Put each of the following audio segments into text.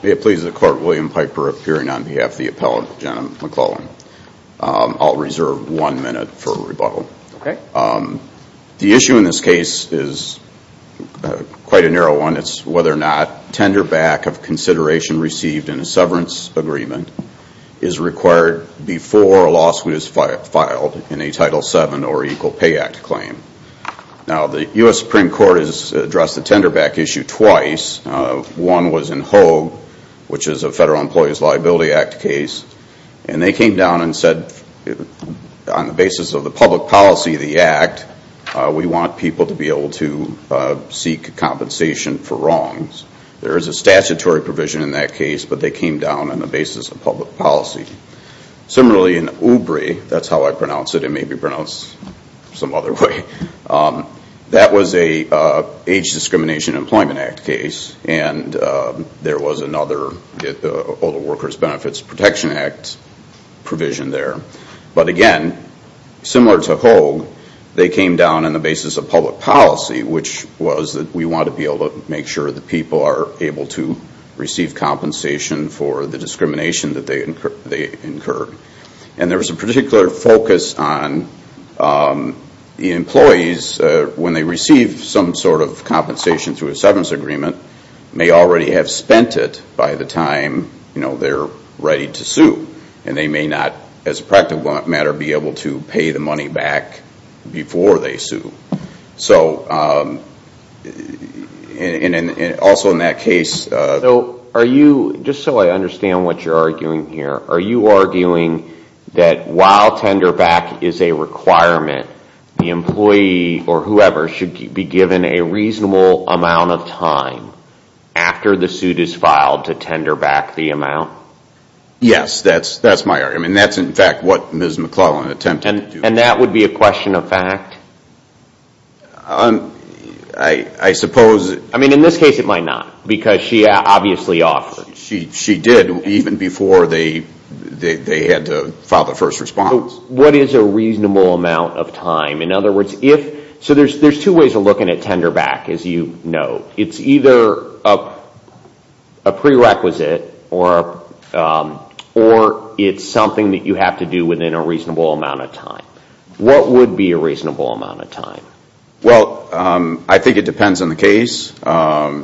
May it please the court, William Piper appearing on behalf of the appellant, Jena McClellan. I'll reserve one minute for rebuttal. The issue in this case is quite a narrow one. It's whether or not tender back of consideration received in a severance agreement is required before a lawsuit is filed in a Title VII or Equal Pay Act claim. Now the U.S. Supreme Court has addressed the tender back issue twice. One was in Hogue, which is a Federal Employees Liability Act case. And they came down and said, on the basis of the public policy of the Act, we want people to be able to seek compensation for wrongs. There is a statutory provision in that case, but they came down on the basis of public policy. Similarly, in Oubre, that's how I pronounce it, it may be pronounced some other way, that was an Age Discrimination Employment Act case. And there was another, the Older Workers Benefits Protection Act provision there. But again, similar to Hogue, they came down on the basis of public policy, which was that we want to be able to make sure that people are able to receive compensation for the discrimination that they incurred. And there was a particular focus on the employees, when they receive some sort of compensation through a severance agreement, may already have spent it by the time they're ready to sue. And they may not, as a practical matter, be able to pay the money back before they sue. So, and also in that case... So, are you, just so I understand what you're arguing here, are you arguing that while tender back is a requirement, the employee or whoever should be given a reasonable amount of time after the suit is filed to tender back the amount? Yes, that's my argument. That's in fact what Ms. McClellan attempted to do. And that would be a question of fact? I suppose... I mean, in this case it might not, because she obviously offered. She did, even before they had to file the first response. What is a reasonable amount of time? In other words, if... So there's two ways of looking at tender back, as you know. It's either a prerequisite or it's something that you have to do within a reasonable amount of time. What would be a reasonable amount of time? Well, I think it depends on the case. For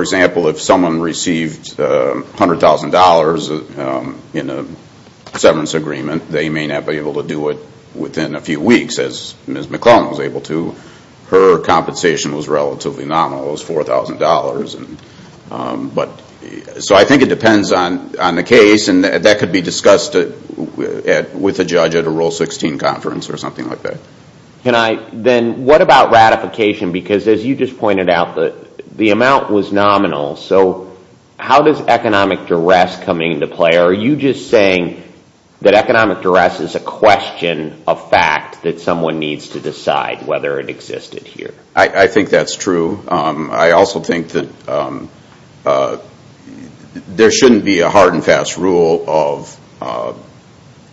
example, if someone received $100,000 in a severance agreement, they may not be able to do it within a few weeks, as Ms. McClellan was able to. Her compensation was relatively nominal. It was $4,000. So I think it depends on the case. And that could be discussed with a judge at a Rule 16 conference or something like that. Then what about ratification? Because as you just pointed out, the amount was nominal. So how does economic duress come into play? Are you just saying that economic duress is a question of fact that someone needs to decide whether it existed here? I think that's true. I also think that there shouldn't be a hard and fast rule of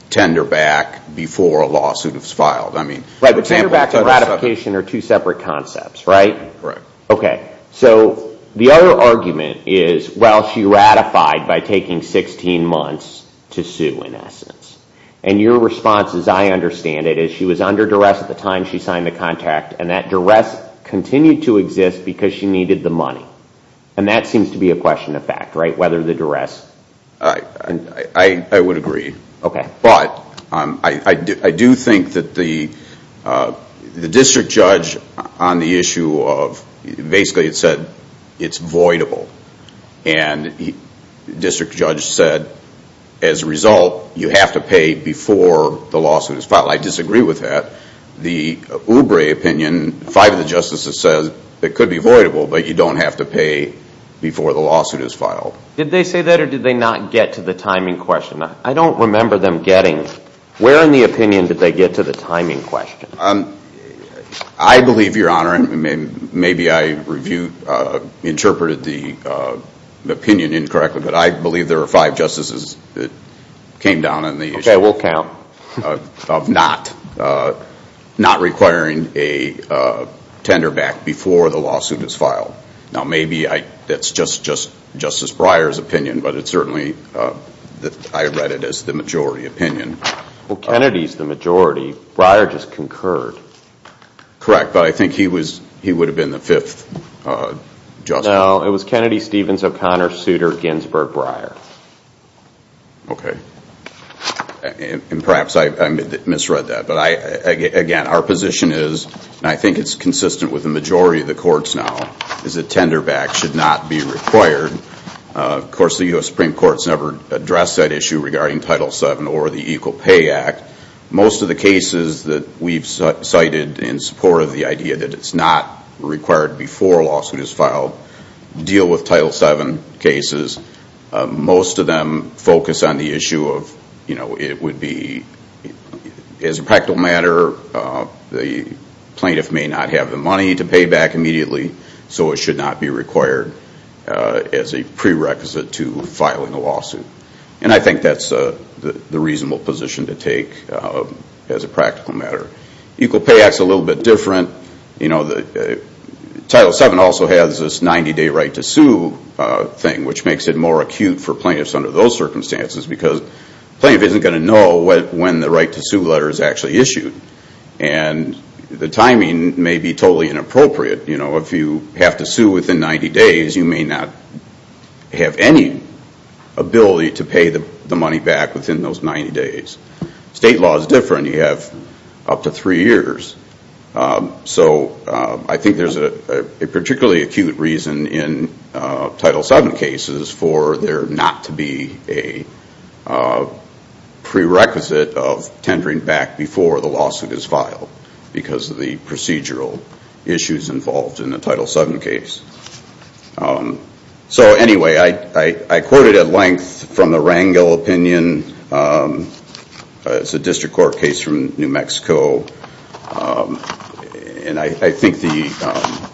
tender back before a lawsuit is filed. Right, but tender back and ratification are two separate concepts, right? Right. Okay, so the other argument is, well, she ratified by taking 16 months to sue, in essence. And your response, as I understand it, is she was under duress at the time she signed the contract, and that duress continued to exist because she needed the money. And that seems to be a question of fact, right, whether the duress? I would agree. But I do think that the district judge on the issue of, basically it said it's voidable. And the district judge said, as a result, you have to pay before the lawsuit is filed. I disagree with that. The Oubre opinion, five of the justices said it could be voidable, but you don't have to pay before the lawsuit is filed. Did they say that, or did they not get to the timing question? I don't remember them getting. Where in the opinion did they get to the timing question? I believe, Your Honor, maybe I interpreted the opinion incorrectly, but I believe there were five justices that came down on the issue. Okay, we'll count. Now, maybe that's just Justice Breyer's opinion, but it's certainly, I read it as the majority opinion. Well, Kennedy's the majority. Breyer just concurred. Correct, but I think he would have been the fifth justice. No, it was Kennedy, Stevens, O'Connor, Souter, Ginsburg, Breyer. Okay. And perhaps I misread that. But, again, our position is, and I think it's consistent with the majority of the courts now, is that tender back should not be required. Of course, the U.S. Supreme Court's never addressed that issue regarding Title VII or the Equal Pay Act. Most of the cases that we've cited in support of the idea that it's not required before a lawsuit is filed deal with Title VII cases. Most of them focus on the issue of it would be, as a practical matter, the plaintiff may not have the money to pay back immediately, so it should not be required as a prerequisite to filing a lawsuit. And I think that's the reasonable position to take as a practical matter. Equal Pay Act's a little bit different. Title VII also has this 90-day right to sue thing, which makes it more acute for plaintiffs under those circumstances because the plaintiff isn't going to know when the right to sue letter is actually issued. And the timing may be totally inappropriate. If you have to sue within 90 days, you may not have any ability to pay the money back within those 90 days. State law is different. You have up to three years. So I think there's a particularly acute reason in Title VII cases for there not to be a prerequisite of tendering back before the lawsuit is filed because of the procedural issues involved in the Title VII case. So anyway, I quoted at length from the Rangel opinion. It's a district court case from New Mexico. And I think the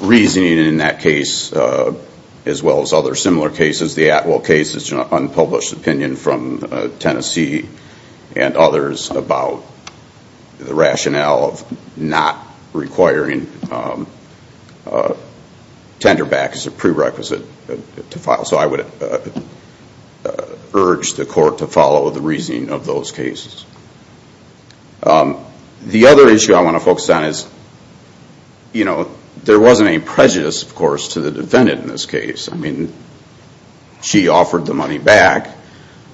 reasoning in that case, as well as other similar cases, the Atwell case is an unpublished opinion from Tennessee and others about the rationale of not requiring tender back as a prerequisite to file. So I would urge the court to follow the reasoning of those cases. The other issue I want to focus on is there wasn't any prejudice, of course, to the defendant in this case. She offered the money back,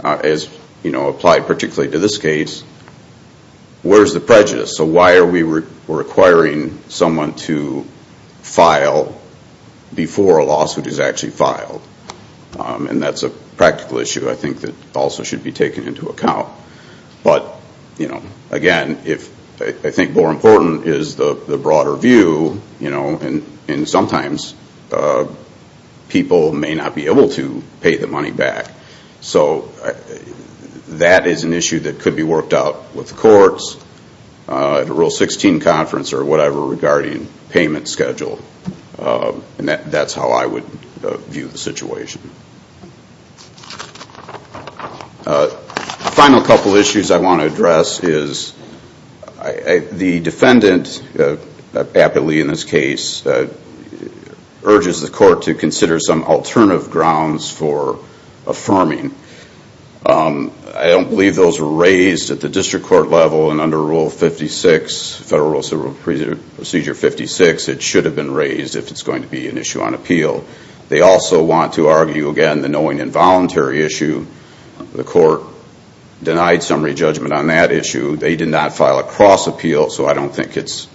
as applied particularly to this case. Where's the prejudice? So why are we requiring someone to file before a lawsuit is actually filed? And that's a practical issue I think that also should be taken into account. But again, I think more important is the broader view. And sometimes people may not be able to pay the money back. So that is an issue that could be worked out with the courts at a Rule 16 conference or whatever regarding payment schedule. And that's how I would view the situation. A final couple of issues I want to address is the defendant, aptly in this case, urges the court to consider some alternative grounds for affirming. I don't believe those were raised at the district court level and under Rule 56, Federal Rules of Procedure 56. It should have been raised if it's going to be an issue on appeal. They also want to argue, again, the knowing involuntary issue. The court denied summary judgment on that issue. They did not file a cross appeal. So I don't think it's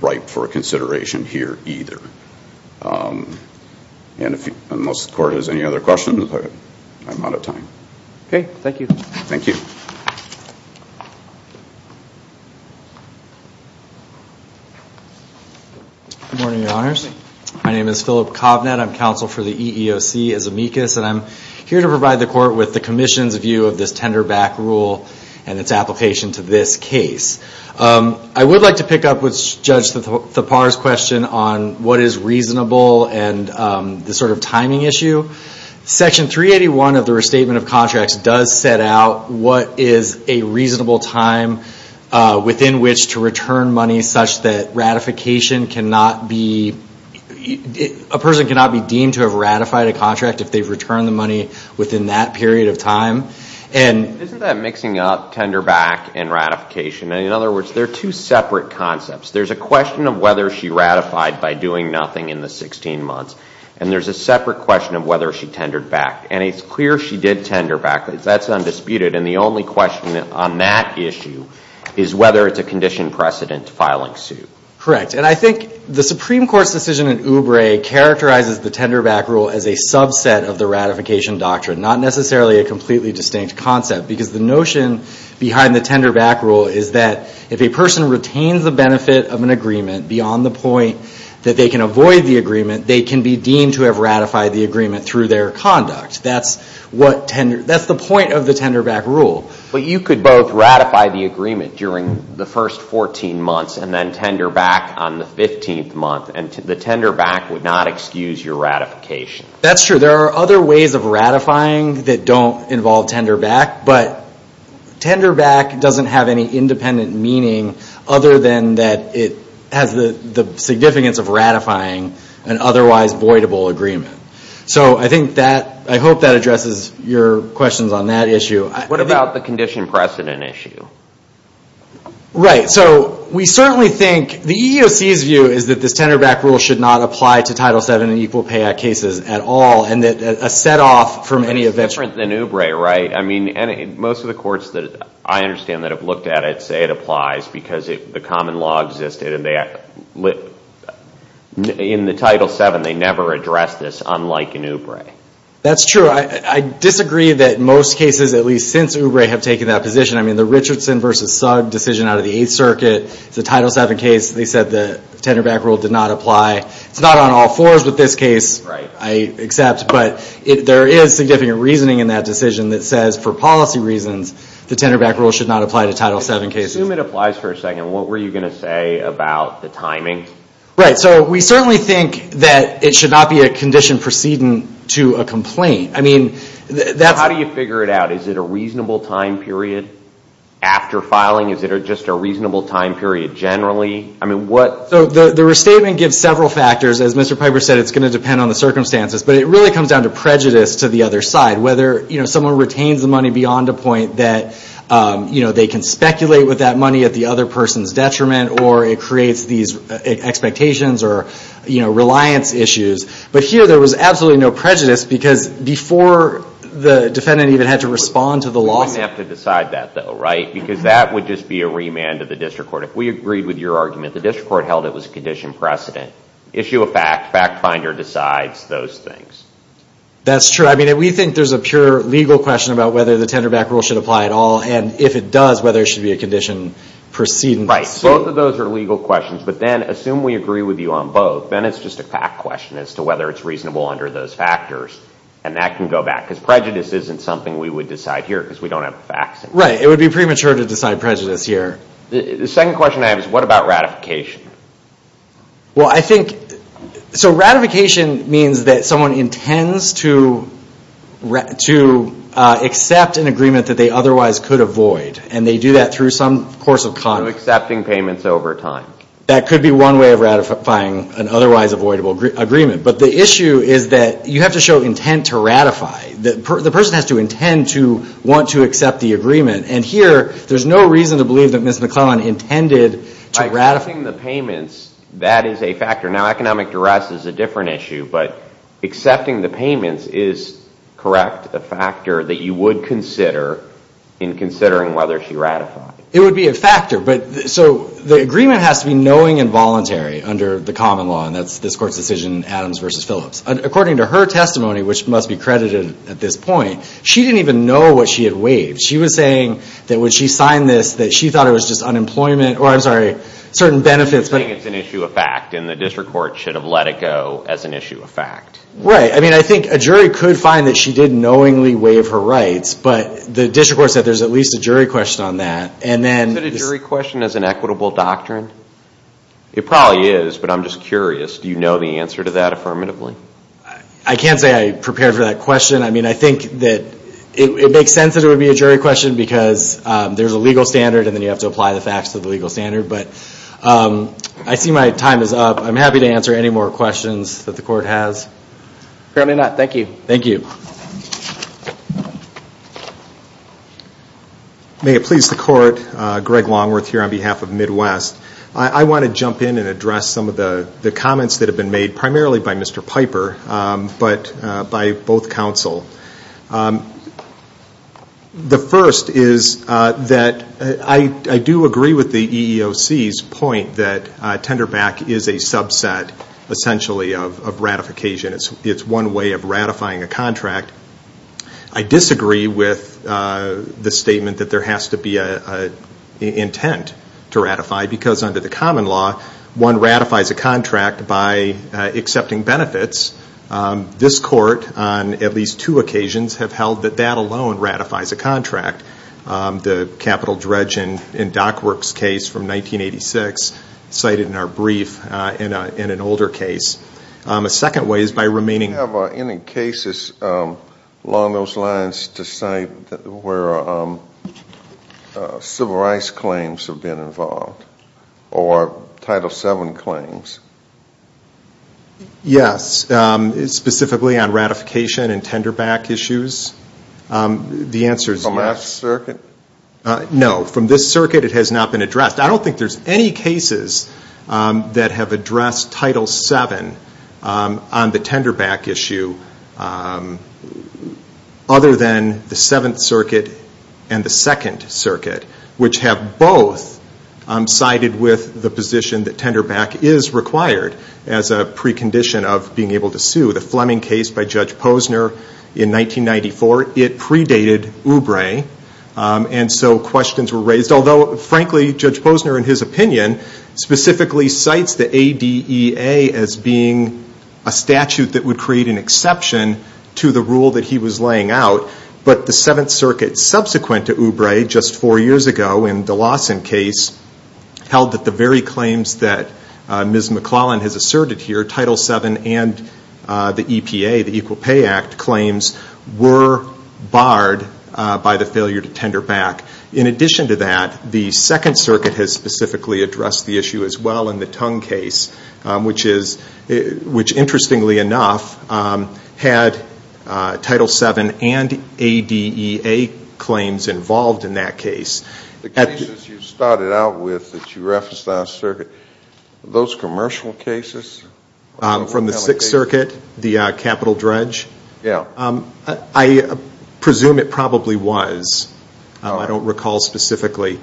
ripe for consideration here either. Unless the court has any other questions, I'm out of time. Okay, thank you. Thank you. Good morning, Your Honors. Good morning. My name is Philip Covnett. I'm counsel for the EEOC as amicus, and I'm here to provide the court with the Commission's view of this tender back rule and its application to this case. I would like to pick up with Judge Thapar's question on what is reasonable and the sort of timing issue. Section 381 of the Restatement of Contracts does set out what is a reasonable time within which to return money such that ratification cannot be, a person cannot be deemed to have ratified a contract if they've returned the money within that period of time. Isn't that mixing up tender back and ratification? In other words, they're two separate concepts. There's a question of whether she ratified by doing nothing in the 16 months, and there's a separate question of whether she tendered back. And it's clear she did tender back. That's undisputed. And the only question on that issue is whether it's a condition precedent filing suit. Correct. And I think the Supreme Court's decision in Oubre characterizes the tender back rule as a subset of the ratification doctrine, not necessarily a completely distinct concept, because the notion behind the tender back rule is that if a person retains the benefit of an agreement beyond the point that they can avoid the agreement, they can be deemed to have ratified the agreement through their conduct. That's the point of the tender back rule. But you could both ratify the agreement during the first 14 months and then tender back on the 15th month, and the tender back would not excuse your ratification. That's true. There are other ways of ratifying that don't involve tender back, but tender back doesn't have any independent meaning other than that it has the significance of ratifying an otherwise voidable agreement. So I hope that addresses your questions on that issue. What about the condition precedent issue? Right. So we certainly think the EEOC's view is that this tender back rule should not apply to Title VII and Equal Pay Act cases at all, and that a set off from any eventual... It's different than Oubre, right? I mean, most of the courts that I understand that have looked at it say it applies because the common law existed. In the Title VII, they never addressed this, unlike in Oubre. That's true. I disagree that most cases, at least since Oubre, have taken that position. I mean, the Richardson v. Sugg decision out of the Eighth Circuit, the Title VII case, they said the tender back rule did not apply. It's not on all fours with this case, I accept, but there is significant reasoning in that decision that says for policy reasons the tender back rule should not apply to Title VII cases. Let's assume it applies for a second. What were you going to say about the timing? Right. So we certainly think that it should not be a condition precedent to a complaint. I mean, that's... How do you figure it out? Is it a reasonable time period after filing? Is it just a reasonable time period generally? I mean, what... So the restatement gives several factors. As Mr. Piper said, it's going to depend on the circumstances, but it really comes down to prejudice to the other side, whether someone retains the money beyond a point that they can speculate with that money at the other person's detriment or it creates these expectations or reliance issues. But here there was absolutely no prejudice because before the defendant even had to respond to the lawsuit... You wouldn't have to decide that, though, right? Because that would just be a remand to the district court. If we agreed with your argument, the district court held it was a condition precedent. Issue a fact, fact finder decides those things. That's true. I mean, we think there's a pure legal question about whether the tenderback rule should apply at all, and if it does, whether it should be a condition precedent. Right. Both of those are legal questions, but then assume we agree with you on both. Then it's just a fact question as to whether it's reasonable under those factors, and that can go back because prejudice isn't something we would decide here because we don't have facts. Right. It would be premature to decide prejudice here. The second question I have is what about ratification? Well, I think... So ratification means that someone intends to accept an agreement that they otherwise could avoid, and they do that through some course of conduct. So accepting payments over time. That could be one way of ratifying an otherwise avoidable agreement, but the issue is that you have to show intent to ratify. The person has to intend to want to accept the agreement, and here there's no reason to believe that Ms. McClellan intended to ratify... Accepting the payments, that is a factor. Now, economic duress is a different issue, but accepting the payments is correct, a factor that you would consider in considering whether she ratified. It would be a factor. So the agreement has to be knowing and voluntary under the common law, and that's this Court's decision, Adams v. Phillips. According to her testimony, which must be credited at this point, she didn't even know what she had waived. She was saying that when she signed this that she thought it was just unemployment, or I'm sorry, certain benefits... She was saying it's an issue of fact, and the district court should have let it go as an issue of fact. Right. I mean, I think a jury could find that she did knowingly waive her rights, but the district court said there's at least a jury question on that, and then... Is it a jury question as an equitable doctrine? It probably is, but I'm just curious. Do you know the answer to that affirmatively? I can't say I prepared for that question. I mean, I think that it makes sense that it would be a jury question because there's a legal standard, and then you have to apply the facts to the legal standard. But I see my time is up. I'm happy to answer any more questions that the Court has. Apparently not. Thank you. Thank you. May it please the Court, Greg Longworth here on behalf of Midwest. I want to jump in and address some of the comments that have been made primarily by Mr. Piper, but by both counsel. The first is that I do agree with the EEOC's point that tender back is a subset, essentially, of ratification. It's one way of ratifying a contract. I disagree with the statement that there has to be an intent to ratify, because under the common law, one ratifies a contract by accepting benefits. This Court, on at least two occasions, have held that that alone ratifies a contract. The capital dredge in Dockwork's case from 1986 cited in our brief in an older case. A second way is by remaining. Do you have any cases along those lines to cite where civil rights claims have been involved or Title VII claims? Yes, specifically on ratification and tender back issues. The answer is yes. From that circuit? No. From this circuit, it has not been addressed. I don't think there's any cases that have addressed Title VII on the tender back issue, other than the Seventh Circuit and the Second Circuit, which have both sided with the position that tender back is required as a precondition of being able to sue. The Fleming case by Judge Posner in 1994, it predated Oubre, and so questions were raised. Although, frankly, Judge Posner, in his opinion, specifically cites the ADEA as being a statute that would create an exception to the rule that he was laying out. But the Seventh Circuit, subsequent to Oubre just four years ago in the Lawson case, held that the very claims that Ms. McClellan has asserted here, Title VII and the EPA, the Equal Pay Act claims, were barred by the failure to tender back. In addition to that, the Second Circuit has specifically addressed the issue as well in the Tung case, which interestingly enough had Title VII and ADEA claims involved in that case. The cases you started out with that you referenced on the circuit, are those commercial cases? From the Sixth Circuit, the capital dredge? Yes. I presume it probably was. I don't recall specifically.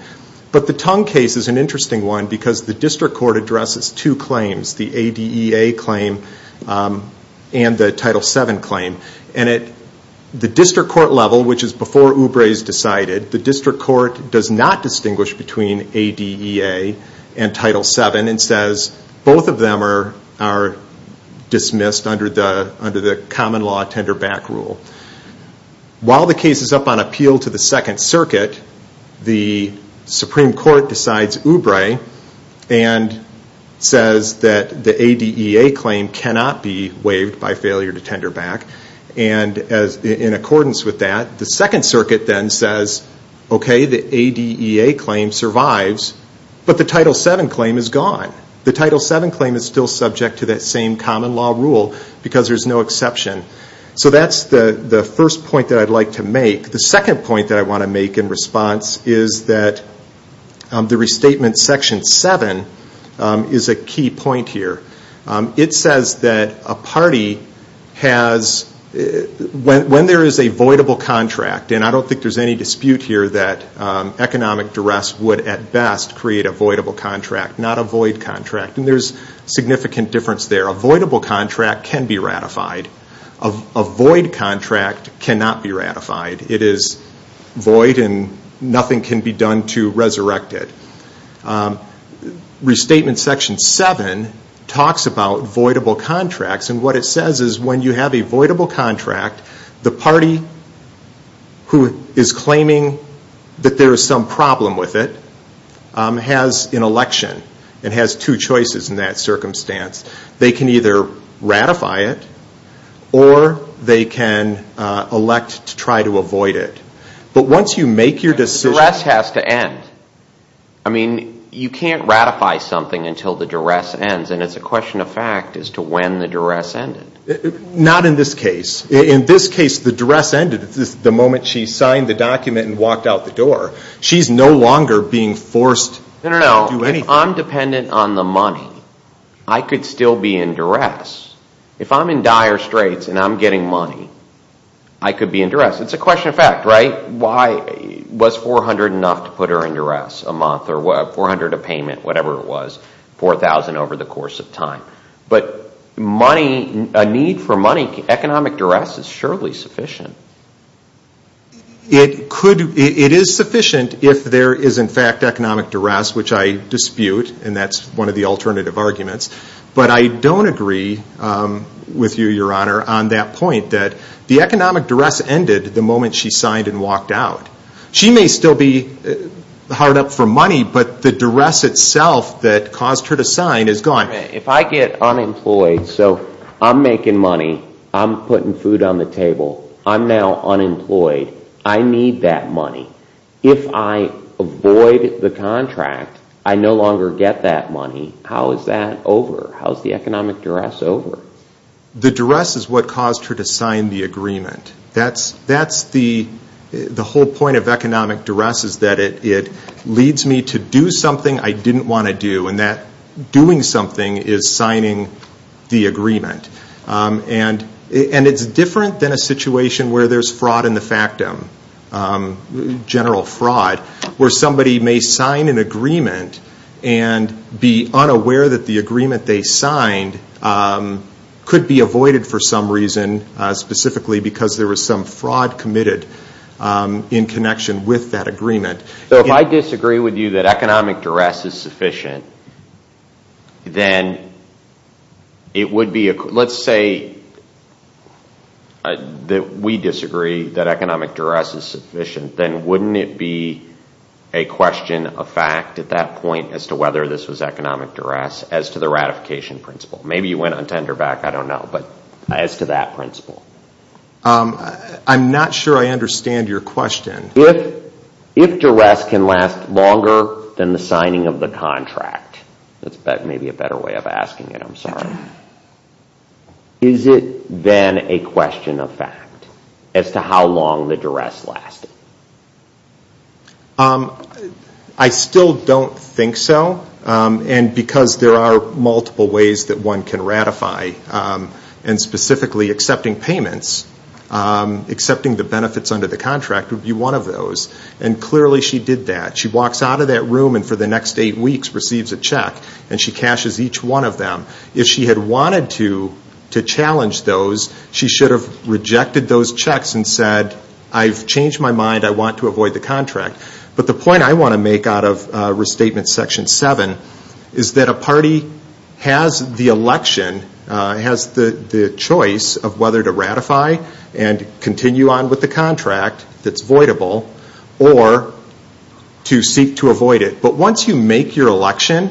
But the Tung case is an interesting one because the district court addresses two claims, the ADEA claim and the Title VII claim. And at the district court level, which is before Oubre is decided, the district court does not distinguish between ADEA and Title VII, and says both of them are dismissed under the common law tender back rule. While the case is up on appeal to the Second Circuit, the Supreme Court decides Oubre and says that the ADEA claim cannot be waived by failure to tender back. And in accordance with that, the Second Circuit then says, okay, the ADEA claim survives, but the Title VII claim is gone. The Title VII claim is still subject to that same common law rule because there's no exception. So that's the first point that I'd like to make. The second point that I want to make in response is that the Restatement Section 7 is a key point here. It says that a party has, when there is a voidable contract, and I don't think there's any dispute here that economic duress would at best create a voidable contract, not a void contract, and there's significant difference there. A voidable contract can be ratified. A void contract cannot be ratified. It is void and nothing can be done to resurrect it. Restatement Section 7 talks about voidable contracts, and what it says is when you have a voidable contract, the party who is claiming that there is some problem with it has an election and has two choices in that circumstance. They can either ratify it, or they can elect to try to avoid it. But once you make your decision... The duress has to end. I mean, you can't ratify something until the duress ends, and it's a question of fact as to when the duress ended. Not in this case. In this case, the duress ended the moment she signed the document and walked out the door. She's no longer being forced to do anything. If I'm dependent on the money, I could still be in duress. If I'm in dire straits and I'm getting money, I could be in duress. It's a question of fact, right? Was $400 enough to put her in duress a month, or $400 a payment, whatever it was, $4,000 over the course of time. But a need for money, economic duress is surely sufficient. It is sufficient if there is, in fact, economic duress, which I dispute, and that's one of the alternative arguments. But I don't agree with you, Your Honor, on that point, that the economic duress ended the moment she signed and walked out. She may still be hard up for money, but the duress itself that caused her to sign is gone. If I get unemployed, so I'm making money, I'm putting food on the table, I'm now unemployed, I need that money. If I avoid the contract, I no longer get that money. How is that over? How is the economic duress over? The duress is what caused her to sign the agreement. That's the whole point of economic duress, is that it leads me to do something I didn't want to do, and that doing something is signing the agreement. And it's different than a situation where there's fraud in the factum, general fraud, where somebody may sign an agreement and be unaware that the agreement they signed could be avoided for some reason, specifically because there was some fraud committed in connection with that agreement. So if I disagree with you that economic duress is sufficient, then it would be, let's say that we disagree that economic duress is sufficient, then wouldn't it be a question of fact at that point as to whether this was economic duress as to the ratification principle? Maybe you went on tenderback, I don't know, but as to that principle. I'm not sure I understand your question. If duress can last longer than the signing of the contract, that may be a better way of asking it, I'm sorry, is it then a question of fact as to how long the duress lasted? I still don't think so, and because there are multiple ways that one can ratify, and specifically accepting payments, accepting the benefits under the contract, would be one of those, and clearly she did that. She walks out of that room and for the next eight weeks receives a check, and she cashes each one of them. If she had wanted to challenge those, she should have rejected those checks and said, I've changed my mind, I want to avoid the contract. But the point I want to make out of Restatement Section 7 is that a party has the election, has the choice of whether to ratify and continue on with the contract that's voidable, or to seek to avoid it. But once you make your election,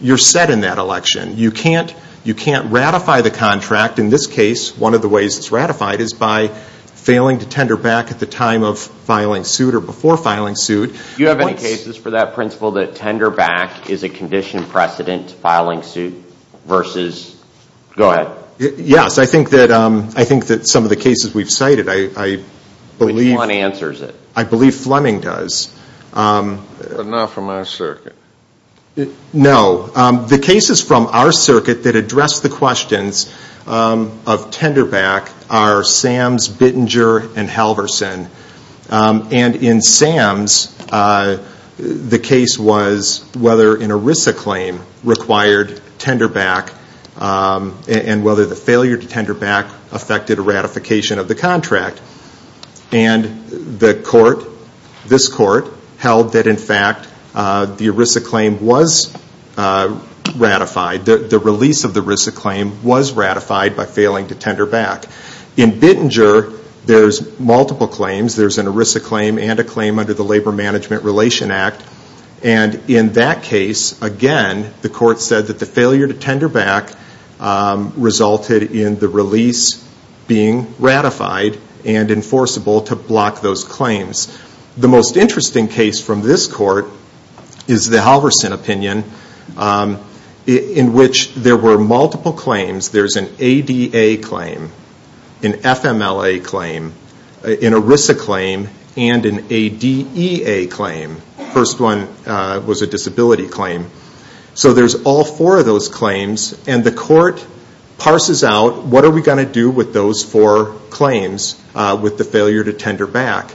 you're set in that election. You can't ratify the contract. In this case, one of the ways it's ratified is by failing to tenderback at the time of filing suit or before filing suit. Do you have any cases for that principle that tenderback is a conditioned precedent to filing suit versus, go ahead. Yes, I think that some of the cases we've cited, I believe Fleming does. But not from our circuit. No. The cases from our circuit that address the questions of tenderback are Sams, Bittinger, and Halverson. And in Sams, the case was whether an ERISA claim required tenderback and whether the failure to tenderback affected a ratification of the contract. And this court held that, in fact, the ERISA claim was ratified. The release of the ERISA claim was ratified by failing to tenderback. In Bittinger, there's multiple claims. There's an ERISA claim and a claim under the Labor Management Relation Act. And in that case, again, the court said that the failure to tenderback resulted in the release being ratified and enforceable to block those claims. The most interesting case from this court is the Halverson opinion in which there were multiple claims. There's an ADA claim, an FMLA claim, an ERISA claim, and an ADEA claim. The first one was a disability claim. So there's all four of those claims. And the court parses out what are we going to do with those four claims with the failure to tenderback.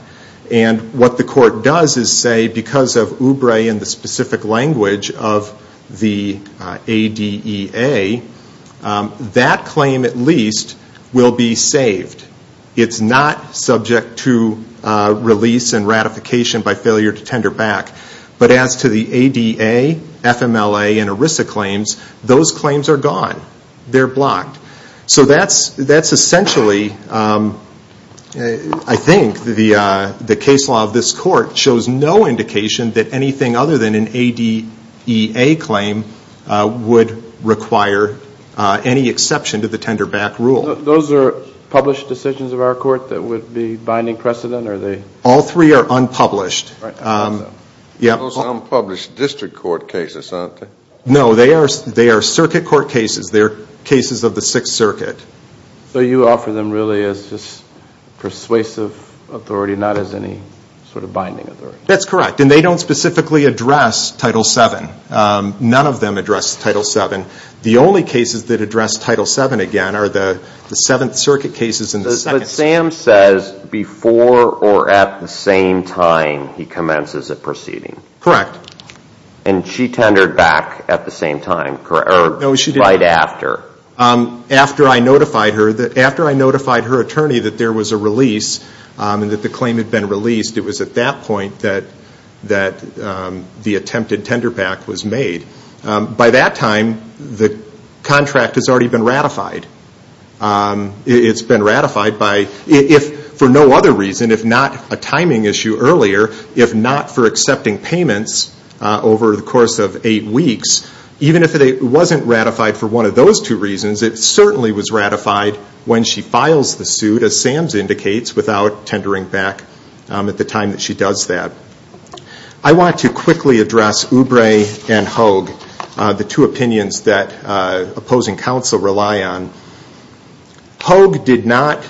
And what the court does is say, because of OOBRE and the specific language of the ADEA, that claim, at least, will be saved. It's not subject to release and ratification by failure to tenderback. But as to the ADA, FMLA, and ERISA claims, those claims are gone. They're blocked. So that's essentially, I think, the case law of this court shows no indication that anything other than an ADEA claim would require any exception to the tenderback rule. Those are published decisions of our court that would be binding precedent? All three are unpublished. Those are unpublished district court cases, aren't they? No, they are circuit court cases. They are cases of the Sixth Circuit. So you offer them really as just persuasive authority, not as any sort of binding authority? That's correct. And they don't specifically address Title VII. None of them address Title VII. The only cases that address Title VII again are the Seventh Circuit cases. But Sam says before or at the same time he commences a proceeding. Correct. And she tendered back at the same time, right after? After I notified her attorney that there was a release and that the claim had been released, it was at that point that the attempted tenderback was made. By that time, the contract has already been ratified. It's been ratified for no other reason if not a timing issue earlier, if not for accepting payments over the course of eight weeks. Even if it wasn't ratified for one of those two reasons, it certainly was ratified when she files the suit, as Sam indicates, without tendering back at the time that she does that. I want to quickly address Oubre and Hoag, the two opinions that opposing counsel rely on. Hoag did not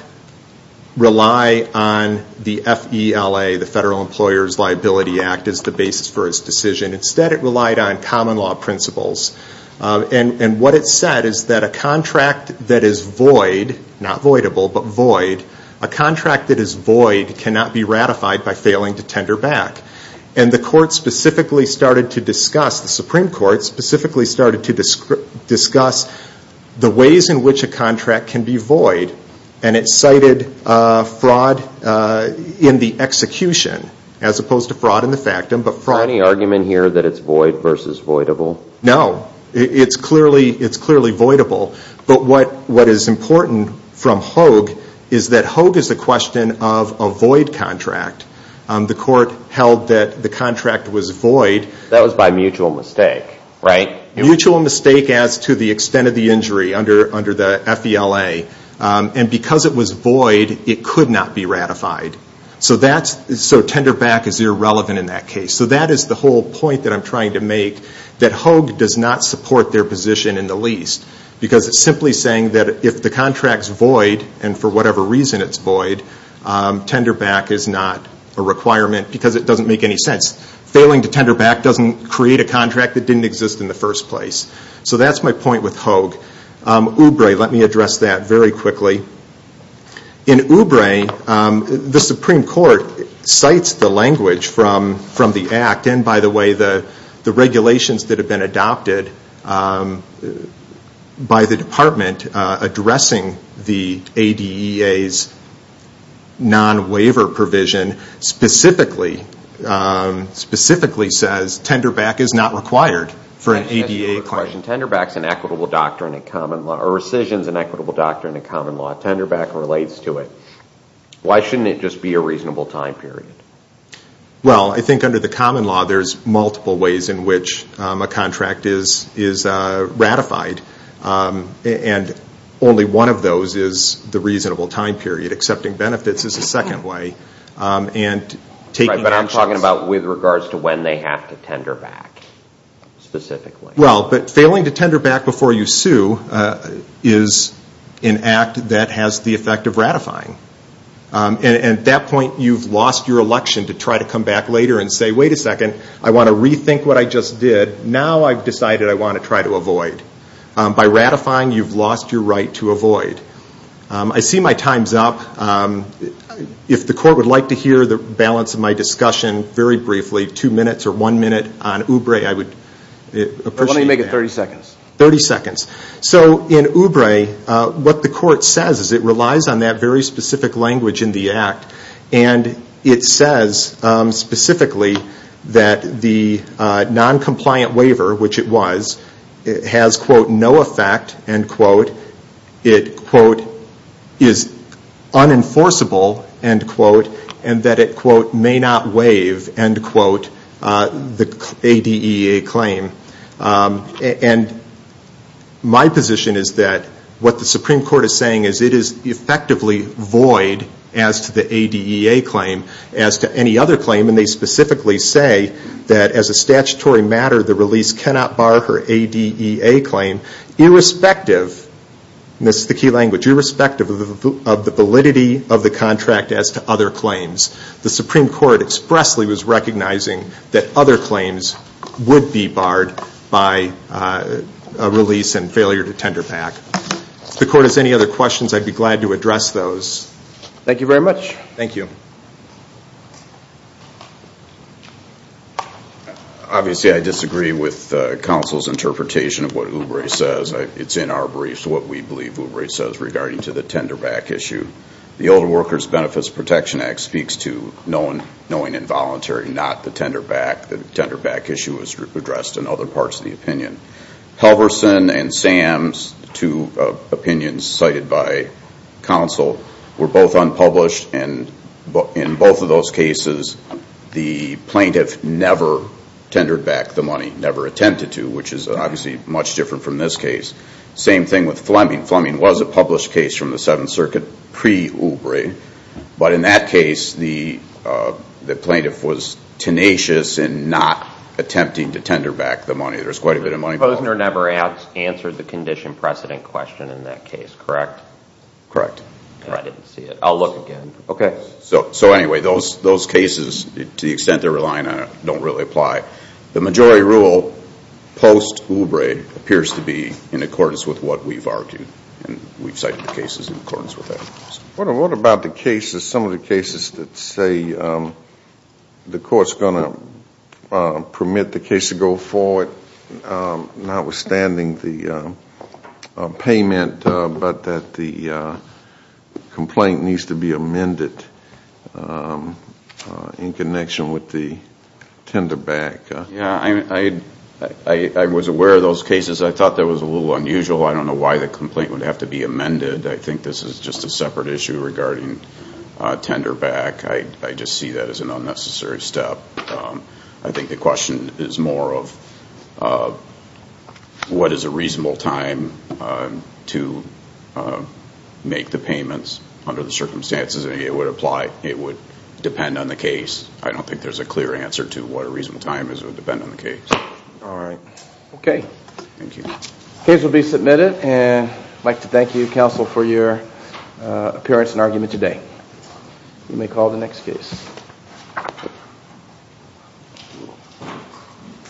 rely on the FELA, the Federal Employers Liability Act, as the basis for his decision. Instead, it relied on common law principles. And what it said is that a contract that is void, not voidable, but void, a contract that is void cannot be ratified by failing to tender back. And the Supreme Court specifically started to discuss the ways in which a contract can be void, and it cited fraud in the execution, as opposed to fraud in the factum. Is there any argument here that it's void versus voidable? No. It's clearly voidable. But what is important from Hoag is that Hoag is a question of a void contract. The court held that the contract was void. That was by mutual mistake, right? Mutual mistake as to the extent of the injury under the FELA. And because it was void, it could not be ratified. So tender back is irrelevant in that case. So that is the whole point that I'm trying to make, that Hoag does not support their position in the least. Because it's simply saying that if the contract's void, and for whatever reason it's void, tender back is not a requirement because it doesn't make any sense. Failing to tender back doesn't create a contract that didn't exist in the first place. So that's my point with Hoag. Oubre, let me address that very quickly. In Oubre, the Supreme Court cites the language from the Act, and by the way, the regulations that have been adopted by the department addressing the ADEA's non-waiver provision specifically says tender back is not required for an ADEA claim. I have a question. Tender back is an equitable doctrine in common law. Or rescission is an equitable doctrine in common law. Tender back relates to it. Why shouldn't it just be a reasonable time period? Well, I think under the common law, there's multiple ways in which a contract is ratified. And only one of those is the reasonable time period. Accepting benefits is a second way. But I'm talking about with regards to when they have to tender back, specifically. Well, but failing to tender back before you sue is an act that has the effect of ratifying. And at that point, you've lost your election to try to come back later and say, wait a second, I want to rethink what I just did. Now I've decided I want to try to avoid. By ratifying, you've lost your right to avoid. I see my time's up. If the court would like to hear the balance of my discussion very briefly, two minutes or one minute on Oubre, I would appreciate that. Why don't you make it 30 seconds? 30 seconds. So in Oubre, what the court says is it relies on that very specific language in the act. And it says specifically that the noncompliant waiver, which it was, has, quote, no effect, end quote. It, quote, is unenforceable, end quote. And that it, quote, may not waive, end quote, the ADEA claim. And my position is that what the Supreme Court is saying is it is effectively void as to the ADEA claim as to any other claim, and they specifically say that as a statutory matter, the release cannot bar her ADEA claim, irrespective, and this is the key language, irrespective of the validity of the contract as to other claims. The Supreme Court expressly was recognizing that other claims would be barred by a release and failure to tender back. If the court has any other questions, I'd be glad to address those. Thank you very much. Thank you. Obviously, I disagree with counsel's interpretation of what Oubre says. It's in our briefs what we believe Oubre says regarding to the tender back issue. The Older Workers Benefits Protection Act speaks to knowing involuntary, not the tender back. The tender back issue is addressed in other parts of the opinion. Halverson and Sam's two opinions cited by counsel were both unpublished, and in both of those cases the plaintiff never tendered back the money, never attempted to, which is obviously much different from this case. Same thing with Fleming. Fleming was a published case from the Seventh Circuit pre-Oubre, but in that case the plaintiff was tenacious in not attempting to tender back the money. There was quite a bit of money. Posner never answered the condition precedent question in that case, correct? Correct. I didn't see it. I'll look again. Okay. So anyway, those cases, to the extent they're relying on it, don't really apply. The majority rule post-Oubre appears to be in accordance with what we've argued, and we've cited the cases in accordance with that. What about the cases, some of the cases that say the court's going to permit the case to go forward, notwithstanding the payment, but that the complaint needs to be amended in connection with the tender back? Yeah, I was aware of those cases. I thought that was a little unusual. I don't know why the complaint would have to be amended. I think this is just a separate issue regarding tender back. I just see that as an unnecessary step. I think the question is more of what is a reasonable time to make the payments under the circumstances, and it would apply. It would depend on the case. I don't think there's a clear answer to what a reasonable time is. It would depend on the case. All right. Okay. Thank you. The case will be submitted, and I'd like to thank you, counsel, for your appearance and argument today. You may call the next case.